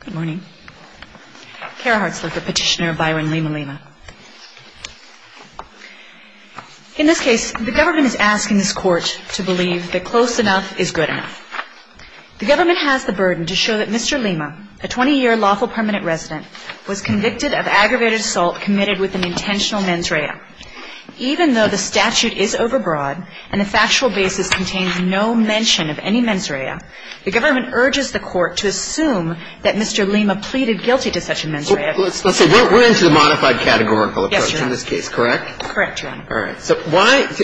Good morning. Kara Hartzler for Petitioner of Byron Lima-Lima. In this case, the government is asking this Court to believe that close enough is good enough. The government has the burden to show that Mr. Lima, a 20-year lawful permanent resident, was convicted of aggravated assault committed with an intentional mens rea. Even though the statute is overbroad and the factual basis contains no mention of any mens rea, the government urges the Court to assume that Mr. Lima pleaded guilty to such a mens rea. Let's say we're into the modified categorical approach in this case, correct? Yes, Your Honor. Correct, Your Honor. All right. So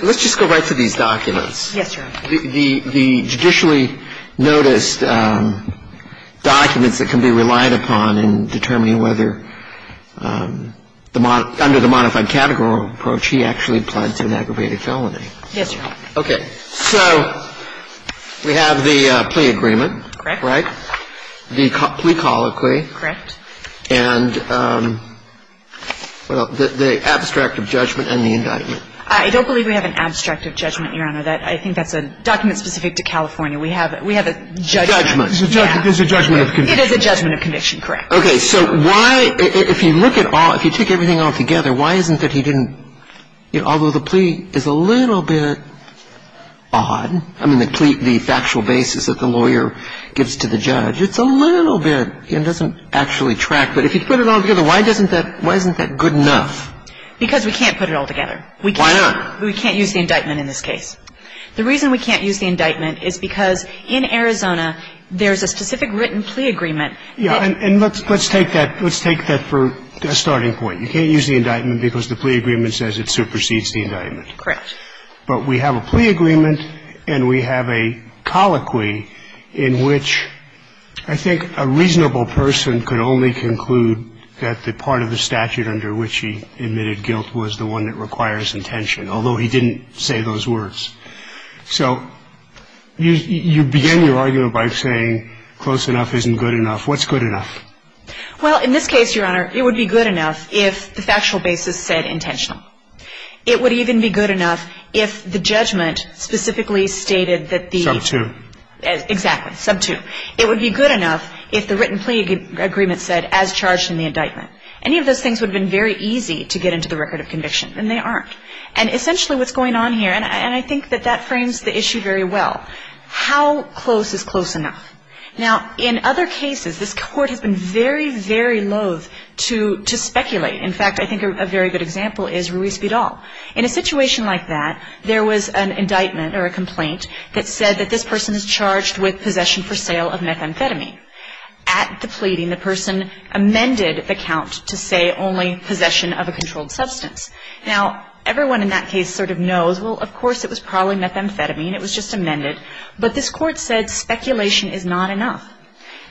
let's just go right to these documents. Yes, Your Honor. The judicially noticed documents that can be relied upon in determining whether, under the modified categorical approach, he actually pled to an aggravated felony. Yes, Your Honor. Okay. So we have the plea agreement. Correct. Right? The plea colloquy. Correct. And the abstract of judgment and the indictment. I don't believe we have an abstract of judgment, Your Honor. I think that's a document specific to California. We have a judgment. It's a judgment of conviction. It is a judgment of conviction, correct. Okay. So why, if you look at all, if you take everything all together, why isn't that he didn't, although the plea is a little bit odd, I mean, the factual basis that the lawyer gives to the judge, it's a little bit, it doesn't actually track. But if you put it all together, why doesn't that, why isn't that good enough? Because we can't put it all together. Why not? We can't use the indictment in this case. The reason we can't use the indictment is because in Arizona, there's a specific written plea agreement. Yes. And let's take that, let's take that for a starting point. You can't use the indictment because the plea agreement says it supersedes the indictment. Correct. But we have a plea agreement and we have a colloquy in which I think a reasonable person could only conclude that the part of the statute under which he admitted guilt was the one that requires intention, although he didn't say those words. So you begin your argument by saying close enough isn't good enough. What's good enough? Well, in this case, Your Honor, it would be good enough if the factual basis said intentional. It would even be good enough if the judgment specifically stated that the — Sub two. Exactly. Sub two. It would be good enough if the written plea agreement said as charged in the indictment. Any of those things would have been very easy to get into the record of conviction, and they aren't. And essentially what's going on here, and I think that that frames the issue very well, how close is close enough? Now, in other cases, this Court has been very, very loathe to speculate. In fact, I think a very good example is Ruiz Vidal. In a situation like that, there was an indictment or a complaint that said that this person is charged with possession for sale of methamphetamine. At the pleading, the person amended the count to say only possession of a controlled substance. Now, everyone in that case sort of knows, well, of course it was probably methamphetamine. It was just amended. But this Court said speculation is not enough.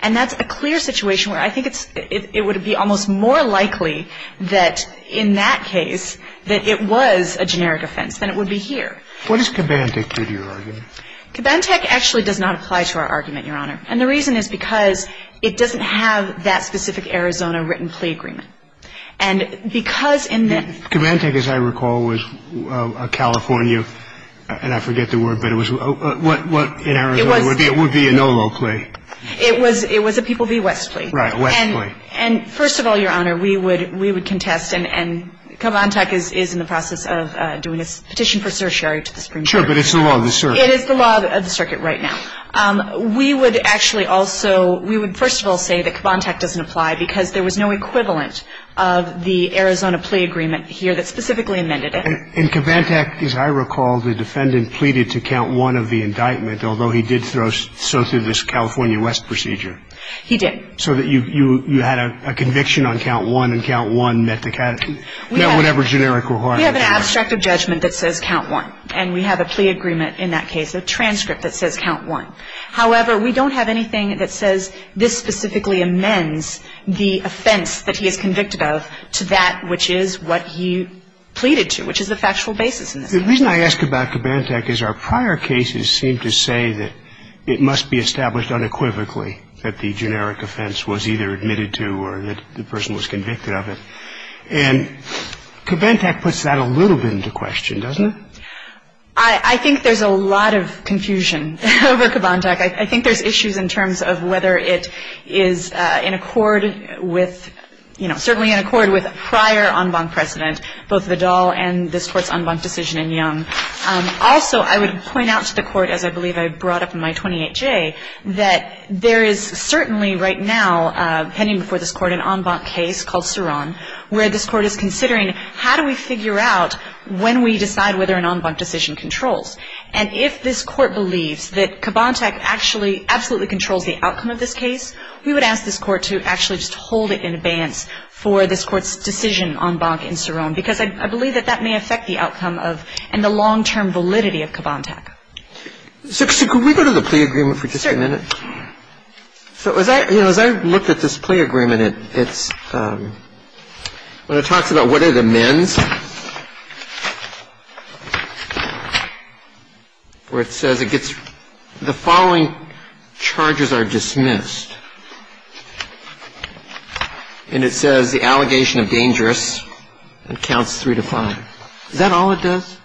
And that's a clear situation where I think it would be almost more likely that in that case that it was a generic offense than it would be here. What does Kabantech do to your argument? Kabantech actually does not apply to our argument, Your Honor. And the reason is because it doesn't have that specific Arizona written plea agreement. And because in the — Kabantech, as I recall, was a California — and I forget the word, but it was — what in Arizona would be a NOLO plea? It was a People v. West plea. Right. West plea. And first of all, Your Honor, we would contest — and Kabantech is in the process of doing its petition for certiorari to the Supreme Court. Sure, but it's the law of the circuit. It is the law of the circuit right now. We would actually also — we would first of all say that Kabantech doesn't apply because there was no equivalent of the Arizona plea agreement here that specifically amended it. And Kabantech, as I recall, the defendant pleaded to count one of the indictment, although he did throw so through this California West procedure. He did. So that you had a conviction on count one, and count one met the — met whatever generic requirement. We have an abstract of judgment that says count one. And we have a plea agreement in that case, a transcript that says count one. However, we don't have anything that says this specifically amends the offense that he is convicted of to that which is what he pleaded to, which is the factual basis in this case. The reason I ask about Kabantech is our prior cases seem to say that it must be established unequivocally that the generic offense was either admitted to or that the person was convicted of it. And Kabantech puts that a little bit into question, doesn't it? I think there's a lot of confusion over Kabantech. I think there's issues in terms of whether it is in accord with, you know, certainly in accord with prior en banc precedent, both Vidal and this Court's en banc decision in Young. Also, I would point out to the Court, as I believe I brought up in my 28J, that there is certainly right now pending before this Court an en banc case called when we decide whether an en banc decision controls. And if this Court believes that Kabantech actually absolutely controls the outcome of this case, we would ask this Court to actually just hold it in abeyance for this Court's decision en banc in Cerrone, because I believe that that may affect the outcome of and the long-term validity of Kabantech. So could we go to the plea agreement for just a minute? Sure. So as I, you know, as I looked at this plea agreement, it's, when it talks about what it amends, where it says it gets, the following charges are dismissed. And it says the allegation of dangerous and counts three to five. Is that all it does?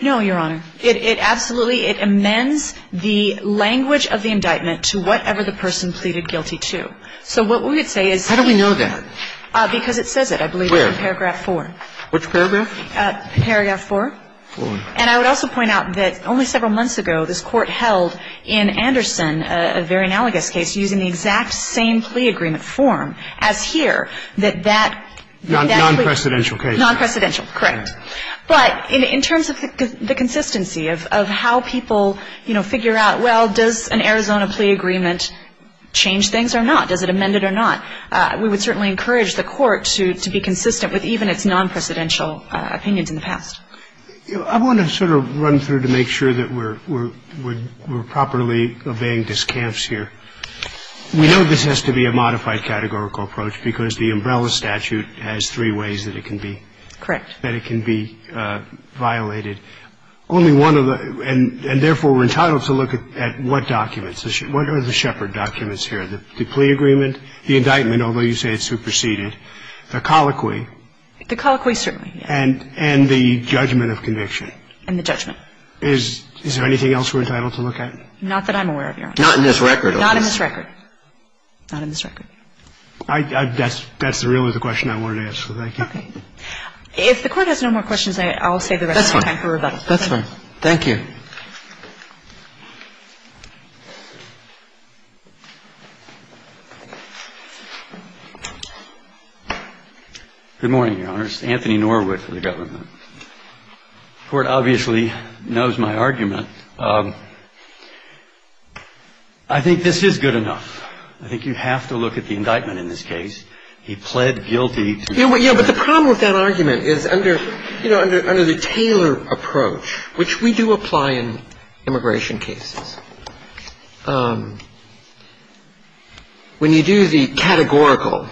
No, Your Honor. It absolutely, it amends the language of the indictment to whatever the person pleaded guilty to. So what we would say is... How do we know that? Because it says it. Where? In paragraph four. Which paragraph? Paragraph four. Four. And I would also point out that only several months ago, this Court held in Anderson a very analogous case using the exact same plea agreement form as here, that that... Non-precedential case. Non-precedential, correct. But in terms of the consistency of how people, you know, figure out, well, does an Arizona plea agreement change things or not? Does it amend it or not? We would certainly encourage the Court to be consistent with even its non-precedential opinions in the past. I want to sort of run through to make sure that we're properly obeying discounts here. We know this has to be a modified categorical approach because the umbrella statute has three ways that it can be... Correct. ...that it can be violated. Only one of the... And therefore, we're entitled to look at what documents. What are the Shepard documents here? The plea agreement, the indictment, although you say it's superseded, the colloquy. The colloquy, certainly, yes. And the judgment of conviction. And the judgment. Is there anything else we're entitled to look at? Not that I'm aware of, Your Honor. Not in this record. Not in this record. Not in this record. That's really the question I wanted to ask, so thank you. Okay. If the Court has no more questions, I'll save the rest of the time for rebuttal. That's fine. Thank you. Good morning, Your Honor. This is Anthony Norwood for the Government. The Court obviously knows my argument. I think this is good enough. I think you have to look at the indictment in this case. He pled guilty to... Yeah, but the problem with that argument is under, you know, under the Taylor approach, which we do apply to all of the indictments in this case. We apply in immigration cases. When you do the categorical,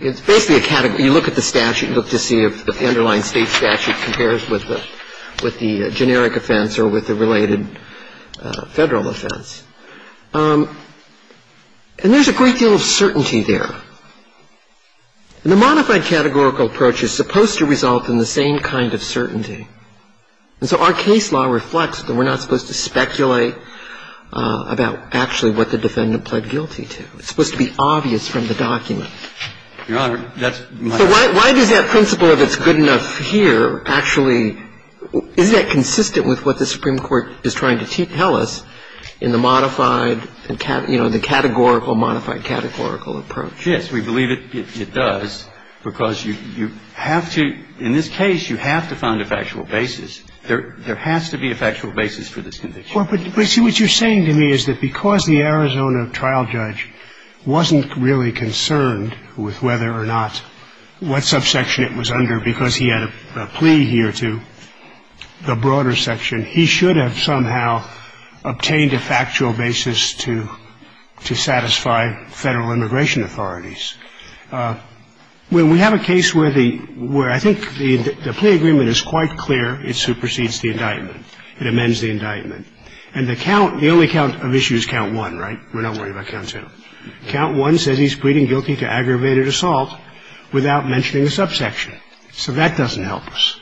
it's basically a category. You look at the statute. You look to see if the underlying state statute compares with the generic offense or with the related federal offense. And there's a great deal of certainty there. And the modified categorical approach is supposed to result in the same kind of certainty. And so our case law reflects that we're not supposed to speculate about actually what the defendant pled guilty to. It's supposed to be obvious from the document. Your Honor, that's my... So why does that principle of it's good enough here actually, isn't that consistent with what the Supreme Court is trying to tell us in the modified, you know, the categorical modified categorical approach? Yes, we believe it does because you have to, in this case, you have to find a factual basis. There has to be a factual basis for this conviction. But see, what you're saying to me is that because the Arizona trial judge wasn't really concerned with whether or not what subsection it was under because he had a plea here to the broader section, he should have somehow obtained a factual basis to satisfy federal immigration authorities. Well, we have a case where I think the plea agreement is quite clear. It supersedes the indictment. It amends the indictment. And the count, the only count of issue is count one, right? We're not worried about count two. Count one says he's pleading guilty to aggravated assault without mentioning a subsection. So that doesn't help us.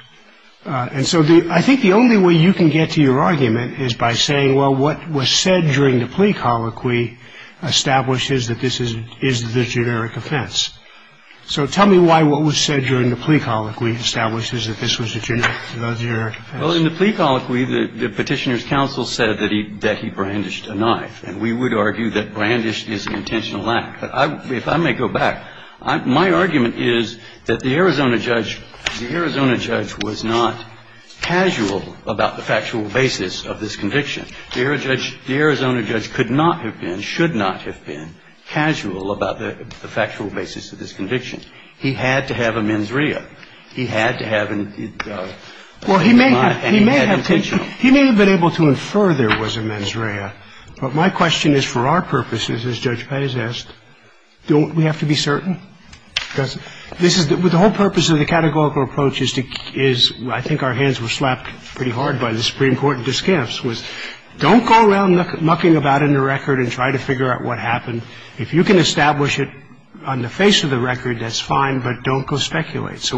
And so I think the only way you can get to your argument is by saying, well, what was said during the plea colloquy establishes that this is the generic offense. So tell me why what was said during the plea colloquy establishes that this was a generic offense. Well, in the plea colloquy, the Petitioner's Counsel said that he brandished a knife. And we would argue that brandished is an intentional act. But if I may go back, my argument is that the Arizona judge was not casual about the factual basis of this conviction. The Arizona judge could not have been, should not have been casual about the factual basis of this conviction. He had to have a mens rea. He had to have an intentional. Well, he may have been able to infer there was a mens rea. But my question is, for our purposes, as Judge Pez asked, don't we have to be certain? Because this is the whole purpose of the categorical approach is, I think our hands were slapped pretty hard by this case, and then we have to be certain. And I think that's one of the very important discamps, was don't go around mucking about in the record and try to figure out what happened. If you can establish it on the face of the record, that's fine, but don't go speculate. So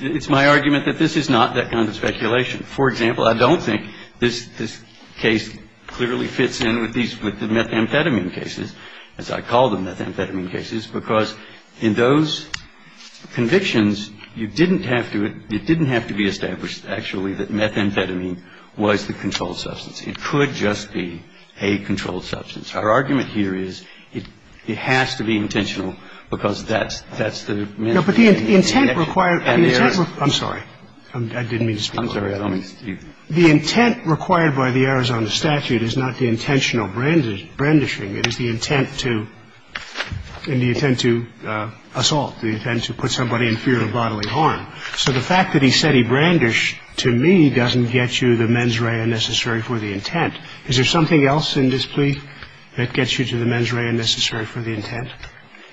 it's my argument that this is not that kind of speculation. For example, I don't think this case clearly fits in with these methamphetamine cases, as I call them, because in those convictions, you didn't have to be established, actually, that methamphetamine was the controlled substance. It could just be a controlled substance. Our argument here is it has to be intentional, because that's the main thing. But the intent required. I'm sorry. I didn't mean to speak. I'm sorry. The intent required by the Arizona statute is not the intentional brandishing. It is the intent to assault, the intent to put somebody in fear of bodily harm. So the fact that he said he brandished to me doesn't get you the mens rea necessary for the intent. Is there something else in this plea that gets you to the mens rea necessary for the intent?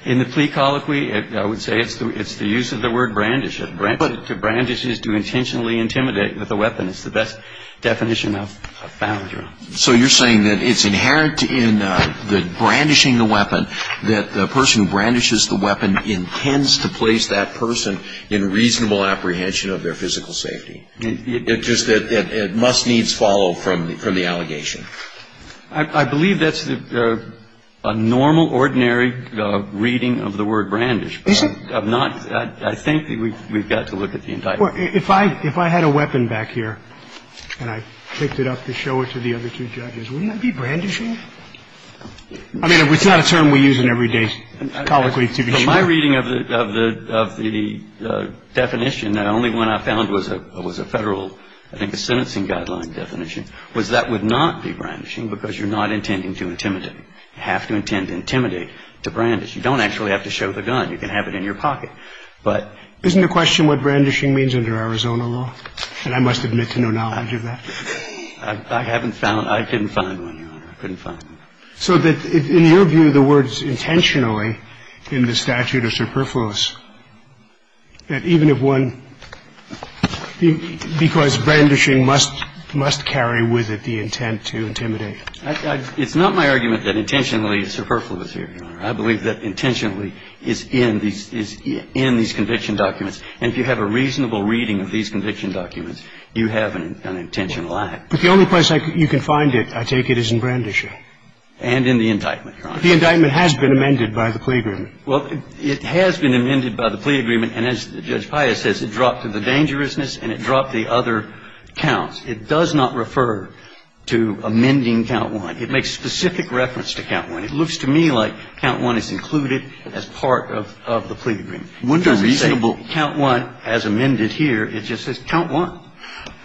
In the plea colloquy, I would say it's the use of the word brandish. To brandish is to intentionally intimidate with a weapon. It's the best definition of foundry. So you're saying that it's inherent in the brandishing the weapon that the person who brandishes the weapon intends to place that person in reasonable apprehension of their physical safety. It just must needs follow from the allegation. I believe that's a normal, ordinary reading of the word brandish. Is it? I'm not. I think that we've got to look at the indictment. If I had a weapon back here and I picked it up to show it to the other two judges, wouldn't that be brandishing? I mean, it's not a term we use in every day colloquy, to be sure. My reading of the definition, and the only one I found was a Federal, I think a sentencing guideline definition, was that would not be brandishing because you're not intending to intimidate. You have to intend to intimidate to brandish. You don't actually have to show the gun. You can have it in your pocket. Isn't the question what brandishing means under Arizona law? And I must admit to no knowledge of that. I haven't found one. I couldn't find one, Your Honor. I couldn't find one. So in your view, the word is intentionally in the statute of superfluous, that even if one, because brandishing must carry with it the intent to intimidate. I believe that intentionally is in these conviction documents. And if you have a reasonable reading of these conviction documents, you have an intentional act. But the only place you can find it, I take it, is in brandishing. And in the indictment, Your Honor. The indictment has been amended by the plea agreement. Well, it has been amended by the plea agreement. And as Judge Pius says, it dropped to the dangerousness and it dropped the other counts. It does not refer to amending count one. It makes specific reference to count one. It looks to me like count one is included as part of the plea agreement. It doesn't say count one as amended here. It just says count one.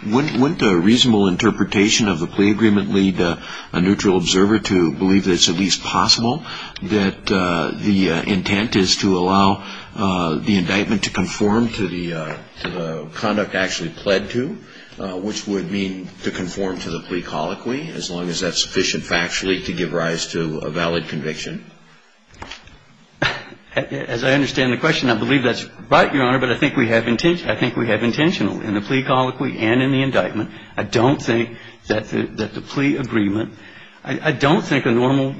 Wouldn't a reasonable interpretation of the plea agreement lead a neutral observer to believe that it's at least possible that the intent is to allow the indictment to conform to the conduct actually pled to, which would mean to conform to the plea colloquy as long as that's sufficient factually to give rise to a valid conviction? As I understand the question, I believe that's right, Your Honor. But I think we have intentional in the plea colloquy and in the indictment. I don't think that the plea agreement – I don't think a normal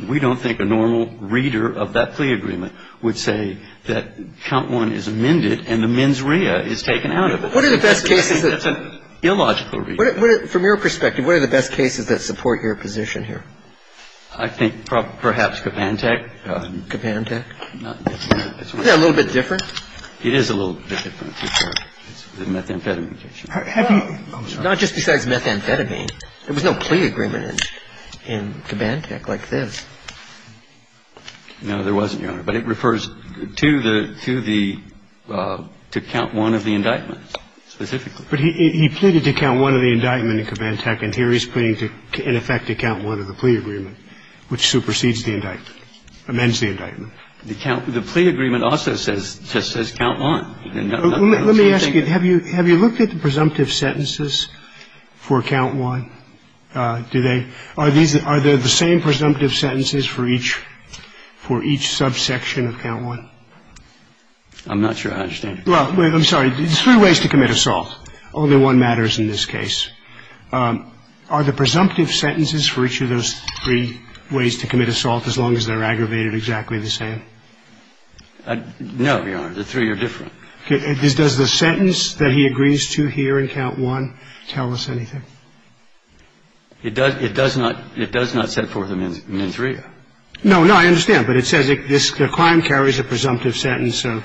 – we don't think a normal reader of that plea agreement would say that count one is amended and the mens rea is taken out of it. What are the best cases that – I think that's an illogical reason. From your perspective, what are the best cases that support your position here? I think perhaps Kabantech. Kabantech? Isn't that a little bit different? It is a little bit different. It's the methamphetamine case. Have you – oh, I'm sorry. Not just besides methamphetamine. There was no plea agreement in Kabantech like this. No, there wasn't, Your Honor. But it refers to the – to count one of the indictment specifically. But he pleaded to count one of the indictment in Kabantech, and here he's pleading in effect to count one of the plea agreement, which supersedes the indictment, amends the indictment. The plea agreement also says – just says count one. Let me ask you, have you looked at the presumptive sentences for count one? Do they – are these – are they the same presumptive sentences for each – for each subsection of count one? I'm not sure I understand. Well, I'm sorry. There's three ways to commit assault. Only one matters in this case. Are the presumptive sentences for each of those three ways to commit assault, as long as they're aggravated, exactly the same? No, Your Honor. The three are different. Does the sentence that he agrees to here in count one tell us anything? It does – it does not – it does not set forth a mens rea. No. No, I understand. But it says the crime carries a presumptive sentence of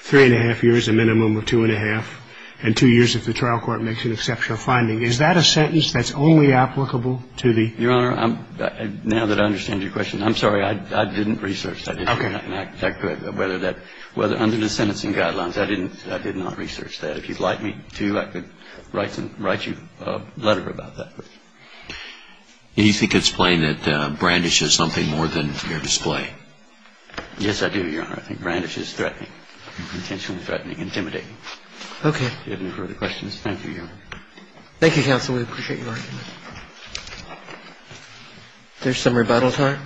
three and a half years, a minimum of two and a half, and two years if the trial court makes an exceptional finding. Is that a sentence that's only applicable to the – Your Honor, now that I understand your question, I'm sorry. I didn't research that. Okay. I'm sorry, Your Honor. I'm not sure whether that – whether under the sentencing guidelines, I didn't – I did not research that. If you'd like me to, I could write you a letter about that. Do you think it's plain that Brandish is something more than fair display? Yes, I do, Your Honor. I think Brandish is threatening, intentionally threatening, intimidating. Okay. Do you have any further questions? Thank you, Your Honor. Thank you, counsel. We appreciate your argument. Is there some rebuttal time?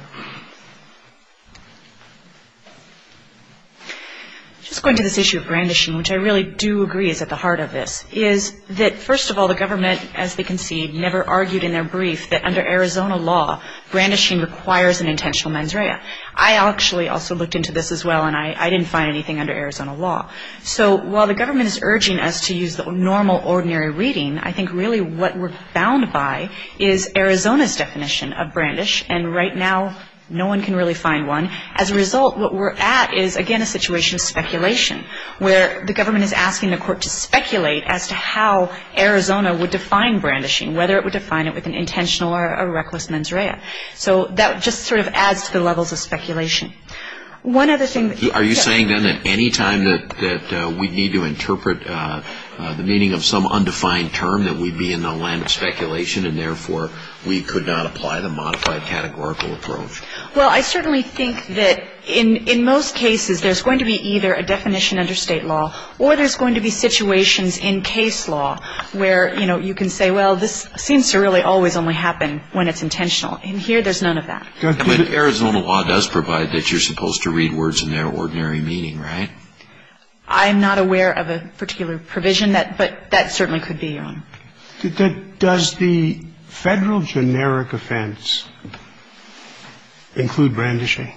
Just going to this issue of Brandishing, which I really do agree is at the heart of this, is that, first of all, the government, as they concede, never argued in their brief that under Arizona law, Brandishing requires an intentional mens rea. I actually also looked into this as well, and I didn't find anything under Arizona law. So while the government is urging us to use normal, ordinary reading, I think really what we're bound by is Arizona's definition of Brandish, and right now no one can really find one. As a result, what we're at is, again, a situation of speculation, where the government is asking the court to speculate as to how Arizona would define Brandishing, whether it would define it with an intentional or a reckless mens rea. Are you saying, then, that any time that we need to interpret the meaning of some undefined term, that we'd be in the land of speculation, and therefore we could not apply the modified categorical approach? Well, I certainly think that in most cases there's going to be either a definition under state law or there's going to be situations in case law where, you know, you can say, well, this seems to really always only happen when it's intentional. And here there's none of that. But Arizona law does provide that you're supposed to read words in their ordinary meaning, right? I'm not aware of a particular provision, but that certainly could be, Your Honor. Does the federal generic offense include Brandishing?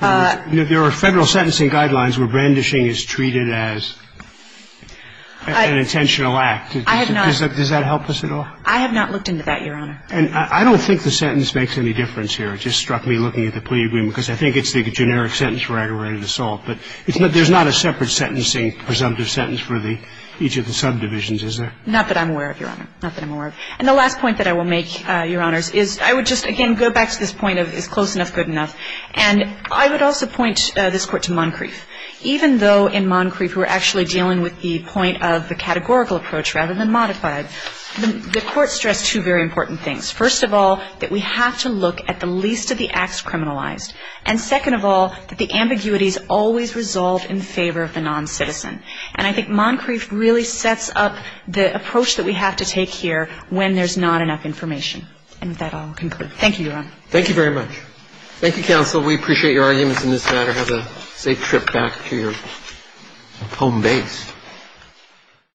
There are federal sentencing guidelines where Brandishing is treated as an intentional act. I have not. Does that help us at all? I have not looked into that, Your Honor. And I don't think the sentence makes any difference here. It just struck me looking at the plea agreement, because I think it's the generic sentence we're ready to solve. But there's not a separate sentencing presumptive sentence for each of the subdivisions, is there? Not that I'm aware of, Your Honor. Not that I'm aware of. And the last point that I will make, Your Honors, is I would just, again, go back to this point of is close enough good enough. And I would also point this Court to Moncrief. Even though in Moncrief we're actually dealing with the point of the categorical approach rather than modified, the Court stressed two very important things. First of all, that we have to look at the least of the acts criminalized. And second of all, that the ambiguities always resolve in favor of the noncitizen. And I think Moncrief really sets up the approach that we have to take here when there's not enough information. And with that, I'll conclude. Thank you, Your Honor. Thank you very much. Thank you, counsel. We appreciate your arguments in this matter. Have a safe trip back to your home base.